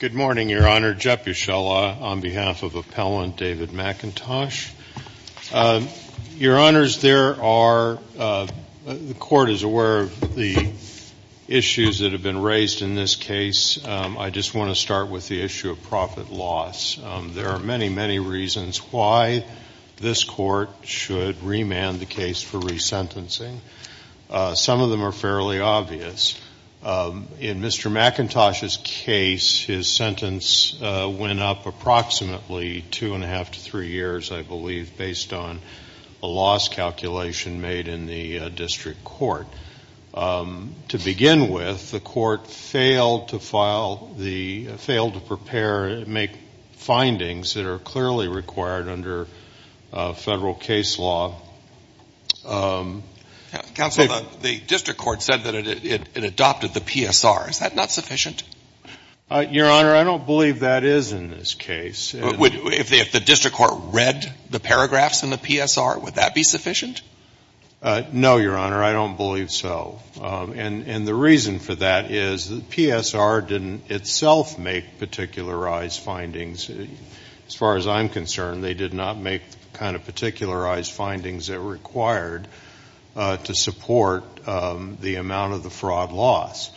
Good morning, Your Honor. Jeb Ushela on behalf of Appellant David McIntosh. Your Honors, there are, the Court is aware of the issues that have been raised in this case. I just want to start with the issue of profit loss. There are many, many reasons why this Court should remand the case for resentencing. Some of them are fairly obvious. In Mr. McIntosh's case, his sentence went up approximately two and a half to three years, I believe, based on a loss calculation made in the district court. To begin with, the court failed to file the, failed to prepare, make findings that are clearly required under federal case law. Counsel, the district court said that it adopted the PSR. Is that not sufficient? Your Honor, I don't believe that is in this case. If the district court read the paragraphs in the PSR, would that be sufficient? No, Your Honor, I don't believe so. And the reason for that is the PSR didn't itself make particularized findings. As far as I'm concerned, they did not make kind of particularized findings that were required to support the amount of the fraud loss.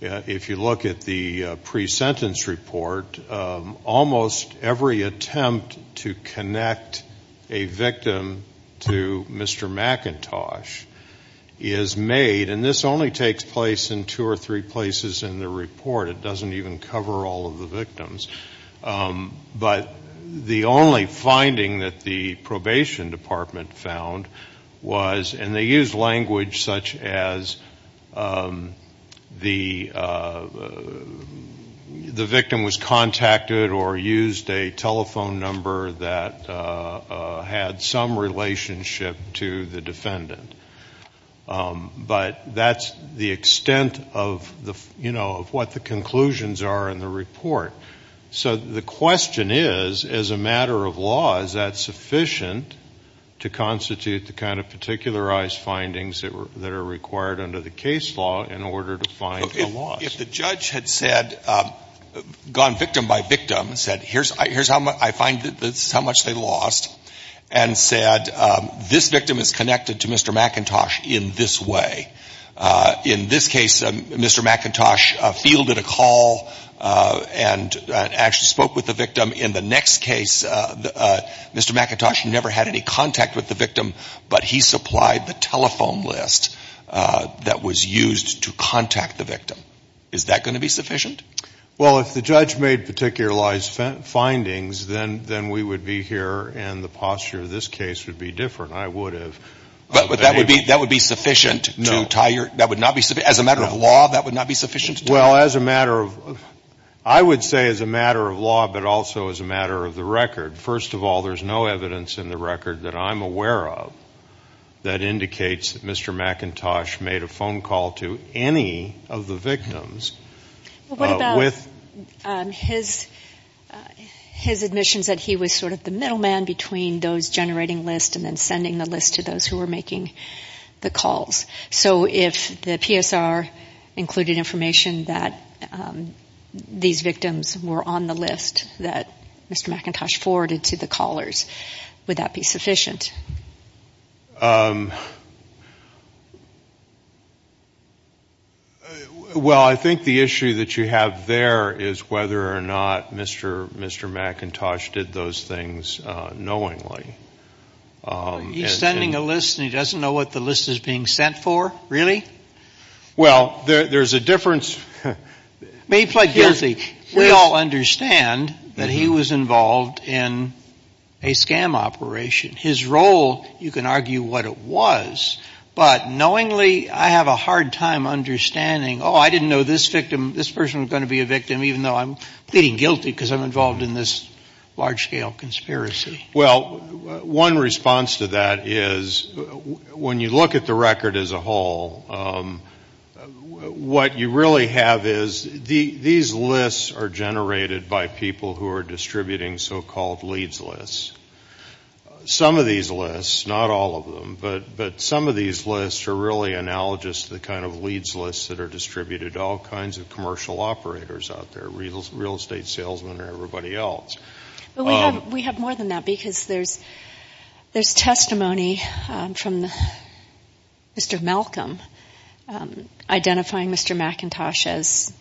If you look at the pre-sentence report, almost every attempt to connect a victim to Mr. McIntosh is made, and this only takes place in two or three places in the report. It doesn't even cover all of the victims. But the only finding that the probation department found was, and they used language such as the victim was contacted or used a telephone number that had some relationship to the defendant. But that's the extent of what the conclusions are in the report. So the question is, as a matter of law, is that sufficient to constitute the kind of particularized findings that are required under the case law in order to find the loss? If the judge had said, gone victim by victim, and said, here's how much I find this is how much they lost, and said, this victim is connected to Mr. McIntosh in this way. In this case, Mr. McIntosh fielded a call and actually spoke with the victim. In the next case, Mr. McIntosh never had any contact with the victim, but he supplied the telephone list that was used to contact the victim. Is that going to be sufficient? Well, if the judge made particularized findings, then we would be here and the posture of this case would be different. I would have. But that would be sufficient to tie your – No. As a matter of law, that would not be sufficient? Well, as a matter of – I would say as a matter of law, but also as a matter of the record. First of all, there's no evidence in the record that I'm aware of that indicates that Mr. McIntosh made a phone call to any of the victims. Well, what about his admissions that he was sort of the middleman between those generating lists and then sending the list to those who were making the calls? So if the PSR included information that these victims were on the list that Mr. McIntosh forwarded to the callers, would that be sufficient? Well, I think the issue that you have there is whether or not Mr. McIntosh did those things knowingly. He's sending a list and he doesn't know what the list is being sent for? Really? Well, there's a difference. May he plead guilty. We all understand that he was involved in a scam operation. His role, you can argue what it was, but knowingly I have a hard time understanding, oh, I didn't know this person was going to be a victim, even though I'm pleading guilty because I'm involved in this large-scale conspiracy. Well, one response to that is when you look at the record as a whole, what you really have is these lists are generated by people who are distributing so-called leads lists. Some of these lists, not all of them, but some of these lists are really analogous to the kind of leads lists that are distributed to all kinds of commercial operators out there, real estate salesmen or everybody else. Well, we have more than that because there's testimony from Mr. Malcolm identifying Mr. McIntosh as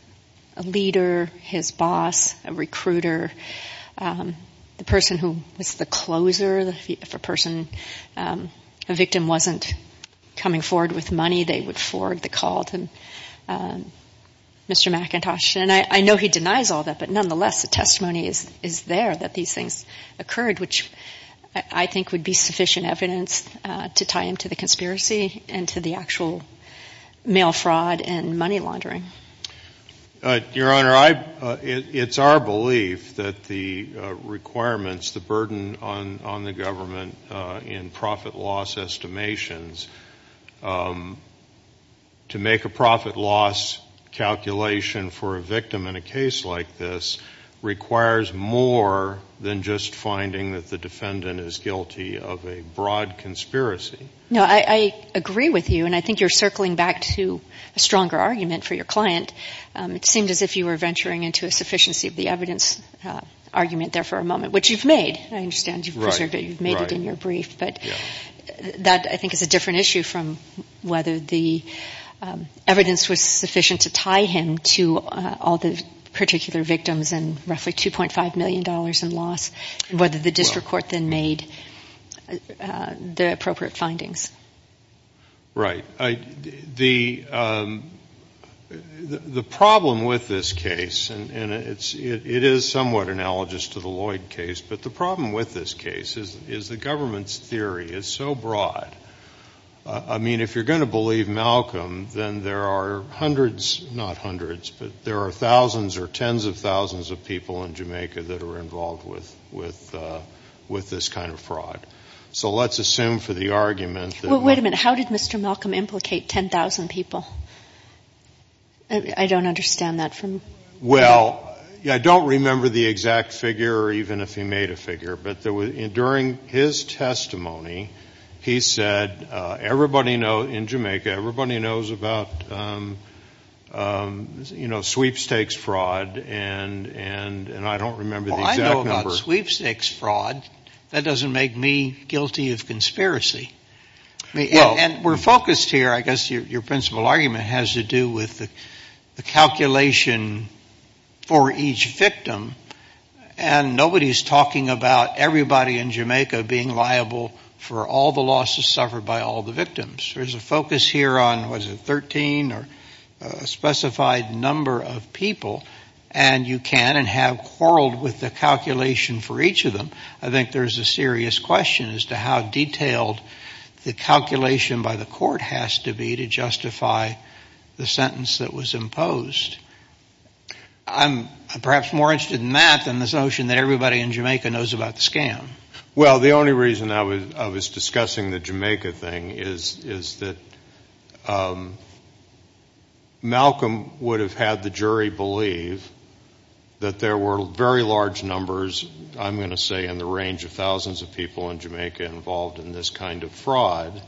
a leader, his boss, a recruiter, the person who was the closer. If a person, a victim wasn't coming forward with money, they would forward the call to Mr. McIntosh. And I know he denies all that, but nonetheless the testimony is there that these things occurred, which I think would be sufficient evidence to tie him to the conspiracy and to the actual mail fraud and money laundering. Your Honor, it's our belief that the requirements, the burden on the government in profit loss estimations, to make a profit loss calculation for a victim in a case like this requires more than just finding that the defendant is guilty of a broad conspiracy. No, I agree with you, and I think you're circling back to a stronger argument for your client. It seemed as if you were venturing into a sufficiency of the evidence argument there for a moment, which you've made. I understand you've made it in your brief, but that I think is a different issue from whether the evidence was sufficient to tie him to all the particular victims and roughly $2.5 million in loss and whether the district court then made the appropriate findings. Right. The problem with this case, and it is somewhat analogous to the Lloyd case, but the problem with this case is the government's theory is so broad. I mean, if you're going to believe Malcolm, then there are hundreds, not hundreds, but there are thousands or tens of thousands of people in Jamaica that are involved with this kind of fraud. So let's assume for the argument that we're going to do this. Well, wait a minute. How did Mr. Malcolm implicate 10,000 people? I don't understand that. Well, I don't remember the exact figure or even if he made a figure, but during his testimony, he said, everybody in Jamaica, everybody knows about, you know, sweepstakes fraud, and I don't remember the exact number. Well, I know about sweepstakes fraud. That doesn't make me guilty of conspiracy. And we're focused here, I guess, your principal argument has to do with the calculation for each victim, and nobody's talking about everybody in Jamaica being liable for all the losses suffered by all the victims. There's a focus here on, what is it, 13 or a specified number of people, and you can and have quarreled with the calculation for each of them. I think there's a serious question as to how detailed the calculation by the court has to be to justify the sentence that was imposed. I'm perhaps more interested in that than this notion that everybody in Jamaica knows about the scam. Well, the only reason I was discussing the Jamaica thing is that Malcolm would have had the jury believe that there were very large numbers, I'm going to say, in the range of thousands of people in Jamaica involved in this kind of fraud.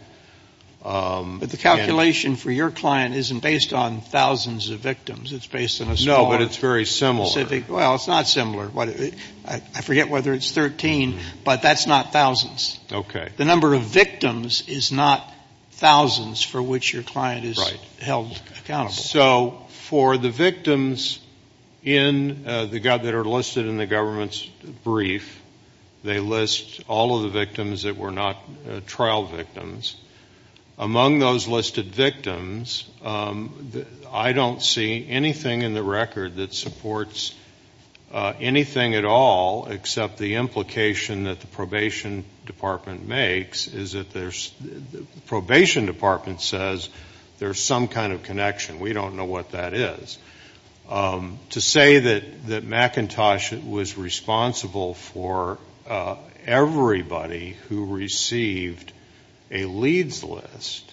But the calculation for your client isn't based on thousands of victims. It's based on a small specific. No, but it's very similar. Well, it's not similar. I forget whether it's 13, but that's not thousands. Okay. The number of victims is not thousands for which your client is held accountable. So for the victims that are listed in the government's brief, they list all of the victims that were not trial victims. Among those listed victims, I don't see anything in the record that supports anything at all except the implication that the probation department makes is that there's, the probation department says there's some kind of connection. We don't know what that is. To say that McIntosh was responsible for everybody who received a leads list,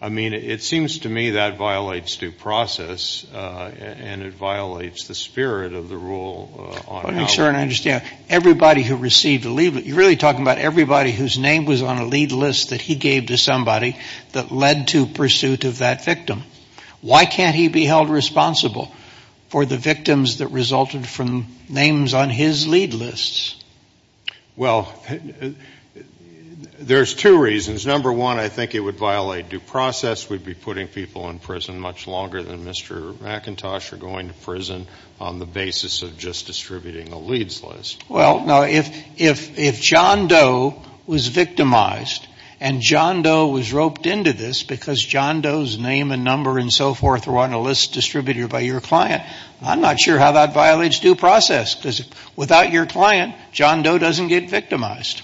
I mean, it seems to me that violates due process and it violates the spirit of the rule. Let me make sure I understand. Everybody who received a lead, you're really talking about everybody whose name was on a lead list that he gave to somebody that led to pursuit of that victim. Why can't he be held responsible for the victims that resulted from names on his lead lists? Well, there's two reasons. Number one, I think it would violate due process. We'd be putting people in prison much longer than Mr. McIntosh or going to prison on the basis of just distributing a leads list. Well, no. If John Doe was victimized and John Doe was roped into this because John Doe's name and number and so forth were on a list distributed by your client, I'm not sure how that violates due process because without your client, John Doe doesn't get victimized.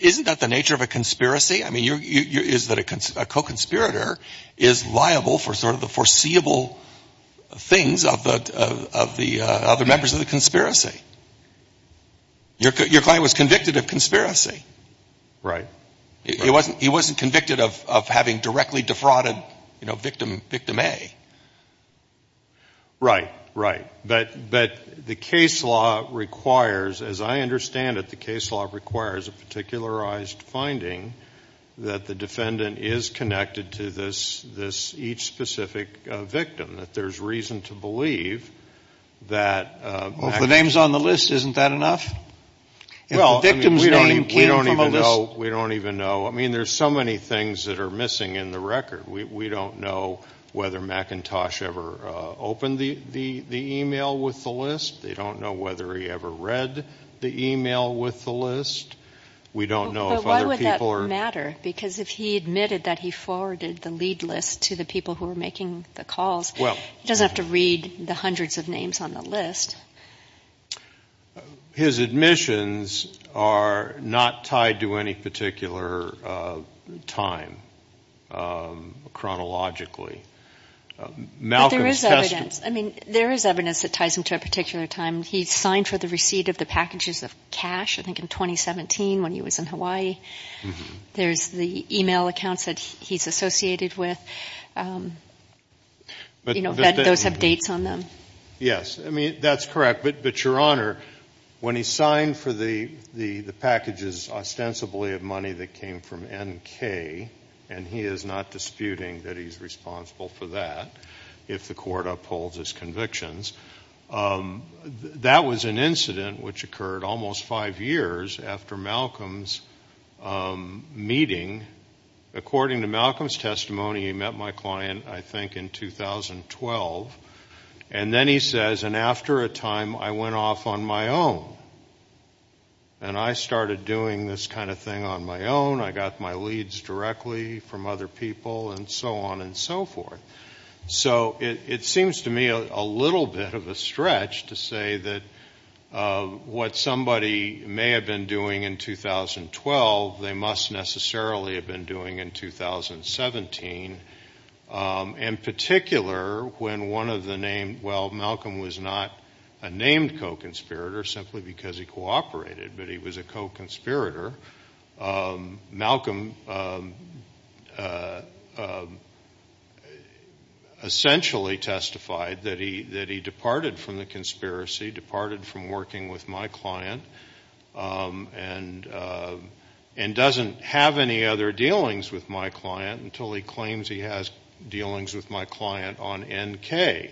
Isn't that the nature of a conspiracy? I mean, is that a co-conspirator is liable for sort of the foreseeable things of the other members of the conspiracy? Your client was convicted of conspiracy. Right. He wasn't convicted of having directly defrauded victim A. Right, right. But the case law requires, as I understand it, the case law requires a particularized finding that the defendant is connected to this each specific victim, that there's reason to believe that. Well, if the name's on the list, isn't that enough? Well, we don't even know. I mean, there's so many things that are missing in the record. We don't know whether McIntosh ever opened the e-mail with the list. They don't know whether he ever read the e-mail with the list. We don't know if other people are. But why would that matter? Because if he admitted that he forwarded the lead list to the people who were making the calls, he doesn't have to read the hundreds of names on the list. His admissions are not tied to any particular time chronologically. But there is evidence. I mean, there is evidence that ties him to a particular time. He signed for the receipt of the packages of cash, I think, in 2017 when he was in Hawaii. There's the e-mail accounts that he's associated with. You know, those have dates on them. Yes. I mean, that's correct. But, Your Honor, when he signed for the packages ostensibly of money that came from NK, and he is not disputing that he's responsible for that if the court upholds his convictions, that was an incident which occurred almost five years after Malcolm's meeting. According to Malcolm's testimony, he met my client, I think, in 2012. And then he says, and after a time I went off on my own. And I started doing this kind of thing on my own. I got my leads directly from other people, and so on and so forth. So it seems to me a little bit of a stretch to say that what somebody may have been doing in 2012, they must necessarily have been doing in 2017. In particular, when one of the named, well, Malcolm was not a named co-conspirator simply because he cooperated, but he was a co-conspirator. Malcolm essentially testified that he departed from the conspiracy, departed from working with my client, and doesn't have any other dealings with my client until he claims he has dealings with my client on NK.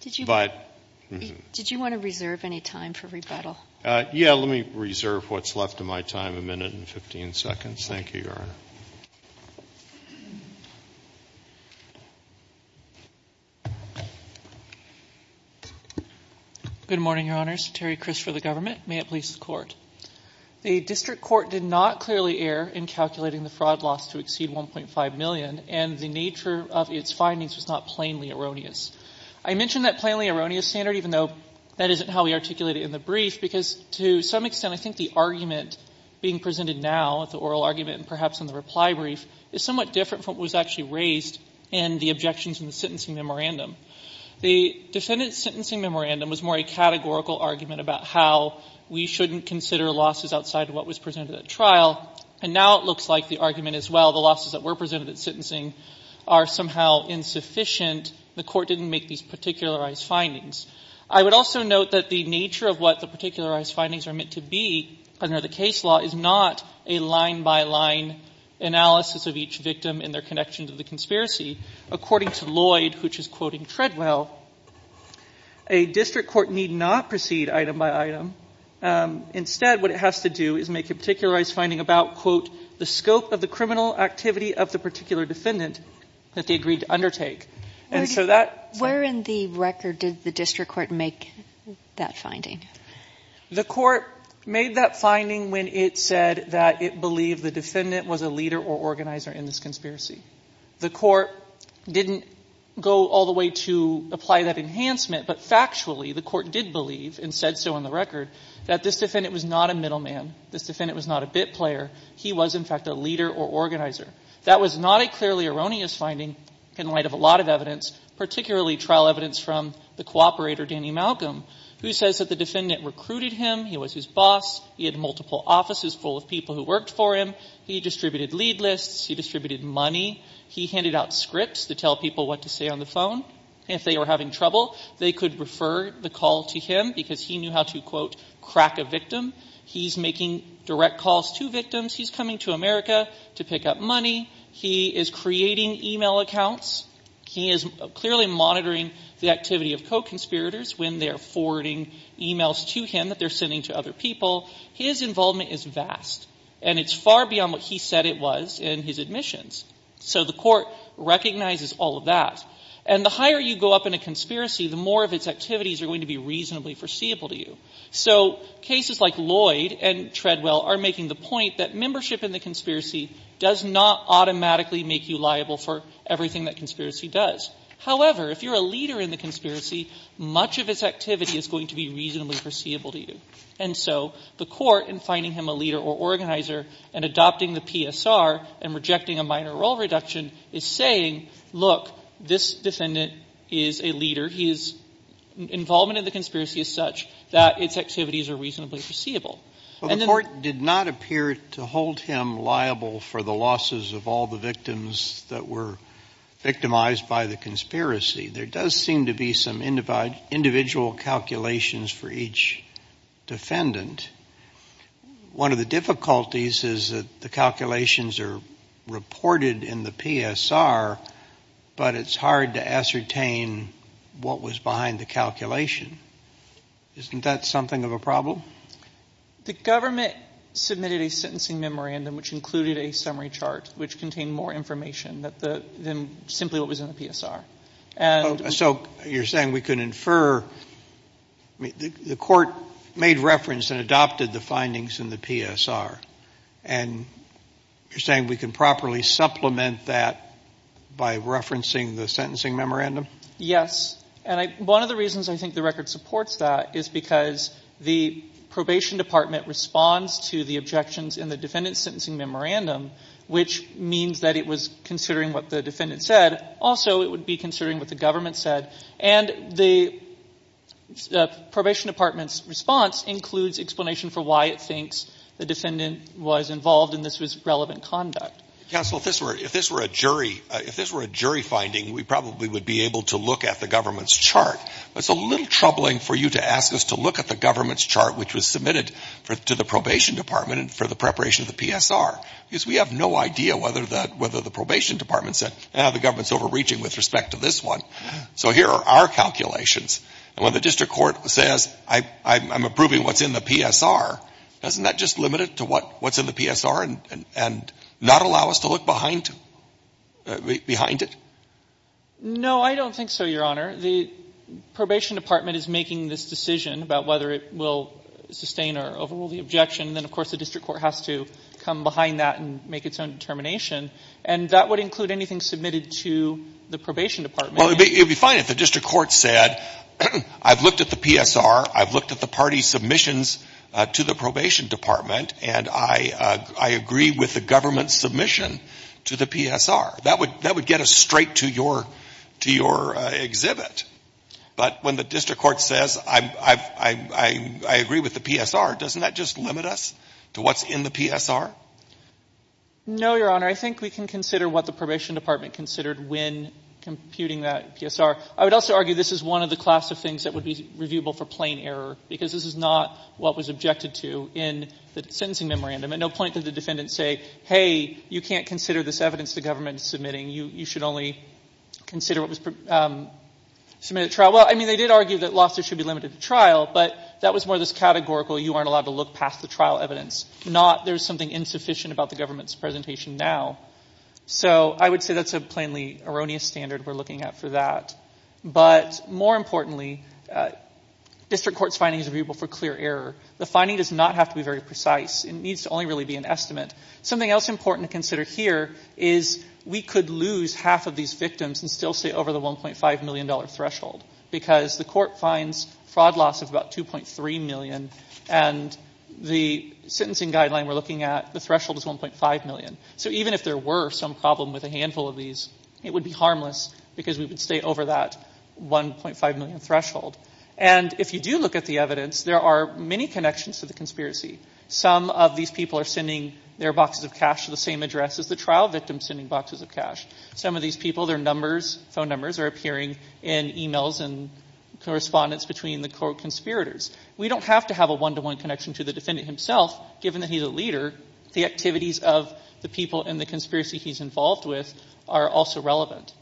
Did you want to reserve any time for rebuttal? Yeah, let me reserve what's left of my time, a minute and 15 seconds. Thank you, Your Honor. Good morning, Your Honors. Terry Cris for the government. May it please the Court. The district court did not clearly err in calculating the fraud loss to exceed $1.5 million, and the nature of its findings was not plainly erroneous. I mention that plainly erroneous standard, even though that isn't how we articulate it in the brief, because to some extent I think the argument being presented now, the oral argument and perhaps in the reply brief, is somewhat different from what was actually raised in the objections in the sentencing memorandum. The defendant's sentencing memorandum was more a categorical argument about how we shouldn't consider losses outside of what was presented at trial, and now it looks like the argument as well, the losses that were presented at sentencing are somehow insufficient. The Court didn't make these particularized findings. I would also note that the nature of what the particularized findings are meant to be under the case law is not a line-by-line analysis of each victim and their connection to the conspiracy. According to Lloyd, which is quoting Treadwell, a district court need not proceed item-by-item. Instead, what it has to do is make a particularized finding about, quote, the scope of the criminal activity of the particular defendant that they agreed to undertake. And so that's why. Sotomayor, where in the record did the district court make that finding? The Court made that finding when it said that it believed the defendant was a leader or organizer in this conspiracy. The Court didn't go all the way to apply that enhancement, but factually the Court did believe and said so in the record that this defendant was not a middleman. This defendant was not a bit player. He was, in fact, a leader or organizer. That was not a clearly erroneous finding in light of a lot of evidence, particularly trial evidence from the cooperator Danny Malcolm, who says that the defendant recruited him. He was his boss. He had multiple offices full of people who worked for him. He distributed lead lists. He distributed money. He handed out scripts to tell people what to say on the phone. If they were having trouble, they could refer the call to him because he knew how to, quote, crack a victim. He's making direct calls to victims. He's coming to America to pick up money. He is creating e-mail accounts. He is clearly monitoring the activity of co-conspirators when they're forwarding e-mails to him that they're sending to other people. His involvement is vast, and it's far beyond what he said it was in his admissions. So the Court recognizes all of that. And the higher you go up in a conspiracy, the more of its activities are going to be reasonably foreseeable to you. So cases like Lloyd and Treadwell are making the point that membership in the conspiracy does not automatically make you liable for everything that conspiracy does. However, if you're a leader in the conspiracy, much of its activity is going to be reasonably foreseeable to you. And so the Court, in finding him a leader or organizer and adopting the PSR and rejecting a minor role reduction, is saying, look, this defendant is a leader. His involvement in the conspiracy is such that its activities are reasonably foreseeable. And the Court did not appear to hold him liable for the losses of all the victims that were victimized by the conspiracy. There does seem to be some individual calculations for each defendant. One of the difficulties is that the calculations are reported in the PSR, but it's hard to ascertain what was behind the calculation. Isn't that something of a problem? The government submitted a sentencing memorandum which included a summary chart which contained more information than simply what was in the PSR. So you're saying we can infer the Court made reference and adopted the findings in the PSR. And you're saying we can properly supplement that by referencing the sentencing memorandum? Yes. And one of the reasons I think the record supports that is because the Probation Department responds to the objections in the defendant's sentencing memorandum, which means that it was considering what the defendant said. Also, it would be considering what the government said. And the Probation Department's response includes explanation for why it thinks the defendant was involved and this was relevant conduct. Counsel, if this were a jury finding, we probably would be able to look at the government's chart. But it's a little troubling for you to ask us to look at the government's chart which was submitted to the Probation Department for the preparation of the PSR. Because we have no idea whether the Probation Department said, ah, the government's overreaching with respect to this one. So here are our calculations. And when the district court says, I'm approving what's in the PSR, doesn't that just limit it to what's in the PSR and not allow us to look behind it? No, I don't think so, Your Honor. The Probation Department is making this decision about whether it will sustain or overrule the objection. Then, of course, the district court has to come behind that and make its own determination. And that would include anything submitted to the Probation Department. Well, it would be fine if the district court said, I've looked at the PSR, I've looked at the party's submissions to the Probation Department, and I agree with the government's submission to the PSR. That would get us straight to your exhibit. But when the district court says, I agree with the PSR, doesn't that just limit us to what's in the PSR? No, Your Honor. I think we can consider what the Probation Department considered when computing that PSR. I would also argue this is one of the class of things that would be reviewable for plain error, because this is not what was objected to in the sentencing memorandum. And no point did the defendant say, hey, you can't consider this evidence the government is submitting. You should only consider what was submitted to trial. Well, I mean, they did argue that losses should be limited to trial, but that was more this categorical, you aren't allowed to look past the trial evidence. There's something insufficient about the government's presentation now. So I would say that's a plainly erroneous standard we're looking at for that. But more importantly, district court's findings are reviewable for clear error. The finding does not have to be very precise. It needs to only really be an estimate. Something else important to consider here is we could lose half of these victims and still stay over the $1.5 million threshold, because the court finds fraud loss of about $2.3 million, and the sentencing guideline we're looking at, the threshold is $1.5 million. So even if there were some problem with a handful of these, it would be harmless, because we would stay over that $1.5 million threshold. And if you do look at the evidence, there are many connections to the conspiracy. Some of these people are sending their boxes of cash to the same address as the trial victim sending boxes of cash. Some of these people, their numbers, phone numbers, are appearing in e-mails and correspondence between the court conspirators. We don't have to have a one-to-one connection to the defendant himself, given that he's a leader. The activities of the people in the conspiracy he's involved with are also relevant.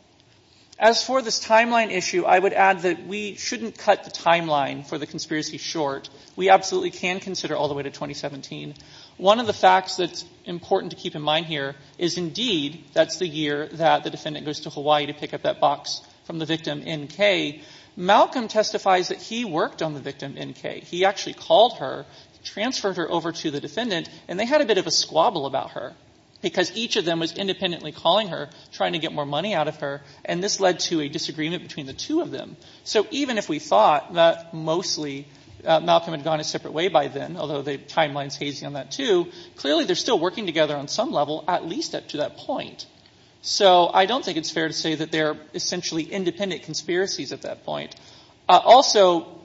As for this timeline issue, I would add that we shouldn't cut the timeline for the conspiracy short. We absolutely can consider all the way to 2017. One of the facts that's important to keep in mind here is, indeed, that's the year that the defendant goes to Hawaii to pick up that box from the victim, N.K. Malcolm testifies that he worked on the victim, N.K. He actually called her, transferred her over to the defendant, and they had a bit of a squabble about her, because each of them was independently calling her, trying to get more money out of her, and this led to a disagreement between the two of them. So even if we thought that mostly Malcolm had gone his separate way by then, although the timeline's hazy on that, too, clearly they're still working together on some level, at least up to that point. So I don't think it's fair to say that they're essentially independent conspiracies at that point. Also,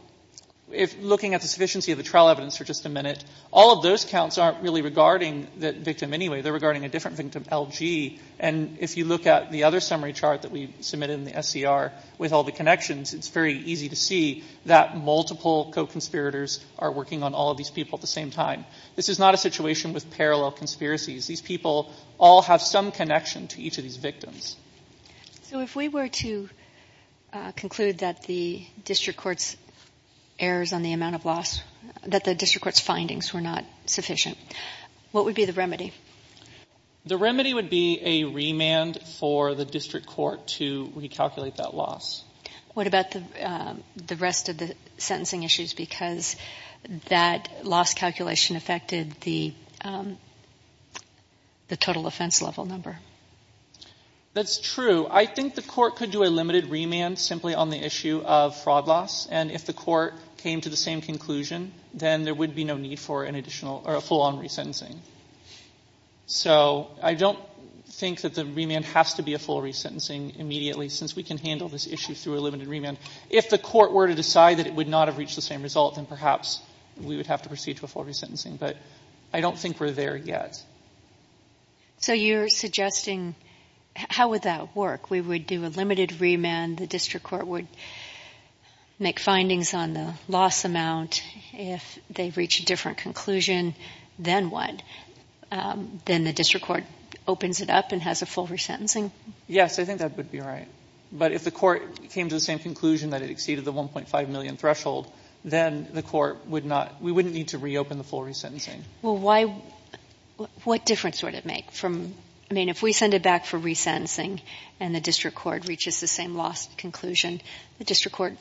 looking at the sufficiency of the trial evidence for just a minute, all of those counts aren't really regarding the victim anyway. They're regarding a different victim, L.G., and if you look at the other summary chart that we submitted in the SCR with all the connections, it's very easy to see that multiple co-conspirators are working on all of these people at the same time. This is not a situation with parallel conspiracies. These people all have some connection to each of these victims. So if we were to conclude that the district court's errors on the amount of loss, that the district court's findings were not sufficient, what would be the remedy? The remedy would be a remand for the district court to recalculate that loss. What about the rest of the sentencing issues, because that loss calculation affected the total offense level number? That's true. I think the court could do a limited remand simply on the issue of fraud loss, and if the court came to the same conclusion, then there would be no need for a full-on resentencing. So I don't think that the remand has to be a full resentencing immediately, since we can handle this issue through a limited remand. If the court were to decide that it would not have reached the same result, then perhaps we would have to proceed to a full resentencing, but I don't think we're there yet. So you're suggesting, how would that work? We would do a limited remand, the district court would make findings on the loss amount, if they reach a different conclusion, then what? Then the district court opens it up and has a full resentencing? Yes, I think that would be right. But if the court came to the same conclusion that it exceeded the $1.5 million threshold, then we wouldn't need to reopen the full resentencing. Well, what difference would it make? If we send it back for resentencing and the district court reaches the same lost conclusion, the district court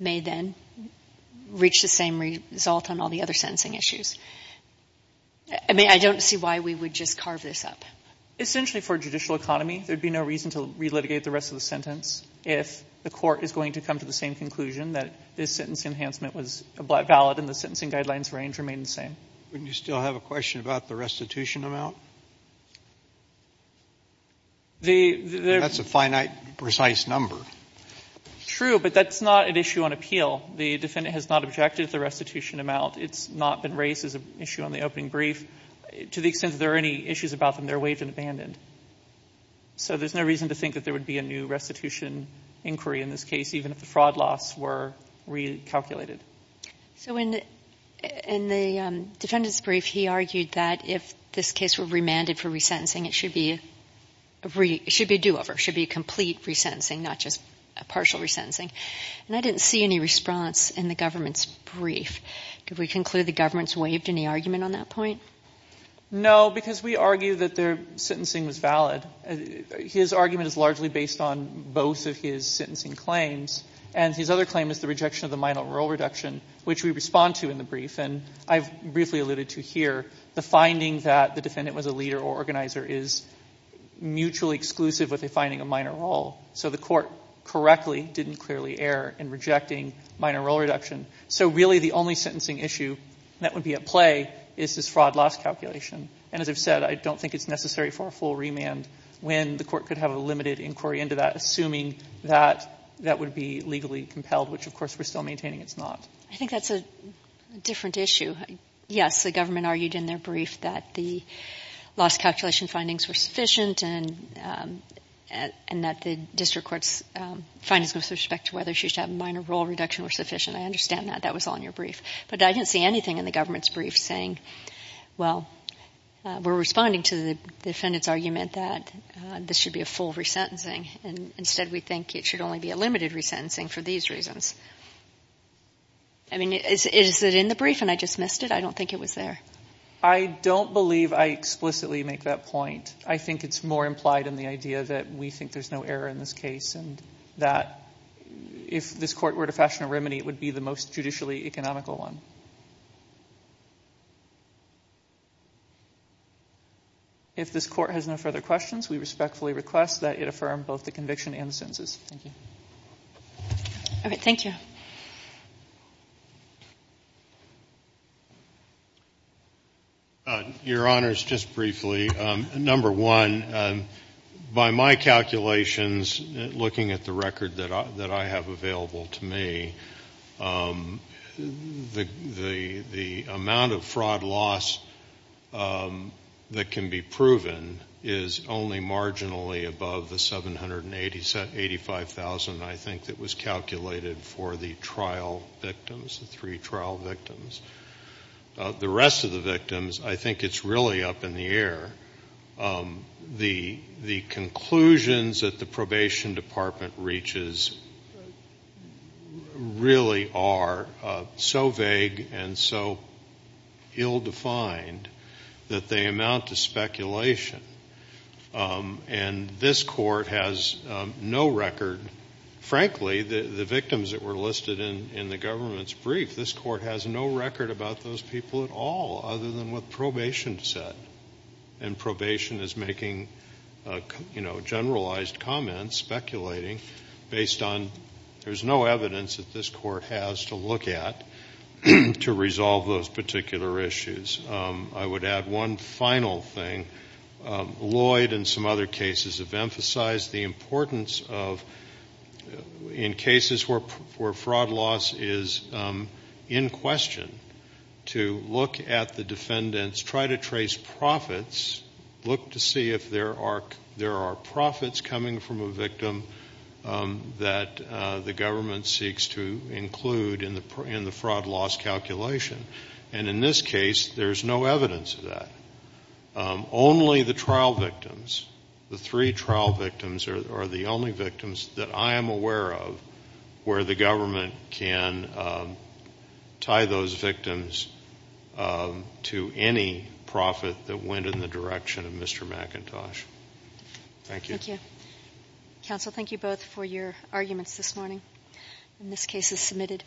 may then reach the same result on all the other sentencing issues. I don't see why we would just carve this up. Essentially, for a judicial economy, there would be no reason to relitigate the rest of the sentence if the court is going to come to the same conclusion that this sentence enhancement was valid and the sentencing guidelines range remained the same. Wouldn't you still have a question about the restitution amount? That's a finite, precise number. True, but that's not an issue on appeal. The defendant has not objected to the restitution amount. It's not been raised as an issue on the opening brief. To the extent that there are any issues about them, they're waived and abandoned. So there's no reason to think that there would be a new restitution inquiry in this case, even if the fraud loss were recalculated. So in the defendant's brief, he argued that if this case were remanded for resentencing, it should be a do-over. It should be a complete resentencing, not just a partial resentencing. And I didn't see any response in the government's brief. Could we conclude the government's waived any argument on that point? No, because we argue that their sentencing was valid. His argument is largely based on both of his sentencing claims, and his other claim is the rejection of the minor role reduction, which we respond to in the brief. And I've briefly alluded to here the finding that the defendant was a leader or organizer is mutually exclusive with a finding of minor role. So the court correctly didn't clearly err in rejecting minor role reduction. So really the only sentencing issue that would be at play is this fraud loss calculation. And as I've said, I don't think it's necessary for a full remand when the court could have a limited inquiry into that, assuming that that would be legally compelled, which of course we're still maintaining it's not. I think that's a different issue. Yes, the government argued in their brief that the loss calculation findings were sufficient and that the district court's findings with respect to whether she should have minor role reduction were sufficient. I understand that. That was all in your brief. But I didn't see anything in the government's brief saying, well, we're responding to the defendant's argument that this should be a full resentencing. And instead we think it should only be a limited resentencing for these reasons. I mean, is it in the brief and I just missed it? I don't think it was there. I don't believe I explicitly make that point. I think it's more implied in the idea that we think there's no error in this case and that if this court were to fashion a remedy, it would be the most judicially economical one. Thank you. If this court has no further questions, we respectfully request that it affirm both the conviction and the sentences. Thank you. All right, thank you. Your Honors, just briefly, number one, by my calculations, looking at the record that I have available to me, the amount of fraud loss that can be proven is only marginally above the 785,000, I think, that was calculated for the trial victims, the three trial victims. The rest of the victims, I think it's really up in the air. The conclusions that the probation department reaches really are so vague and so ill-defined that they amount to speculation. And this court has no record, frankly, the victims that were listed in the government's brief, this court has no record about those people at all other than what probation said. And probation is making, you know, generalized comments, speculating, based on there's no evidence that this court has to look at to resolve those particular issues. I would add one final thing. Lloyd and some other cases have emphasized the importance of, in cases where fraud loss is in question, to look at the defendants, try to trace profits, look to see if there are profits coming from a victim that the government seeks to include in the fraud loss calculation. And in this case, there's no evidence of that. Only the trial victims, the three trial victims are the only victims that I am aware of where the government can tie those victims to any profit that went in the direction of Mr. McIntosh. Thank you. Thank you. Counsel, thank you both for your arguments this morning. And this case is submitted.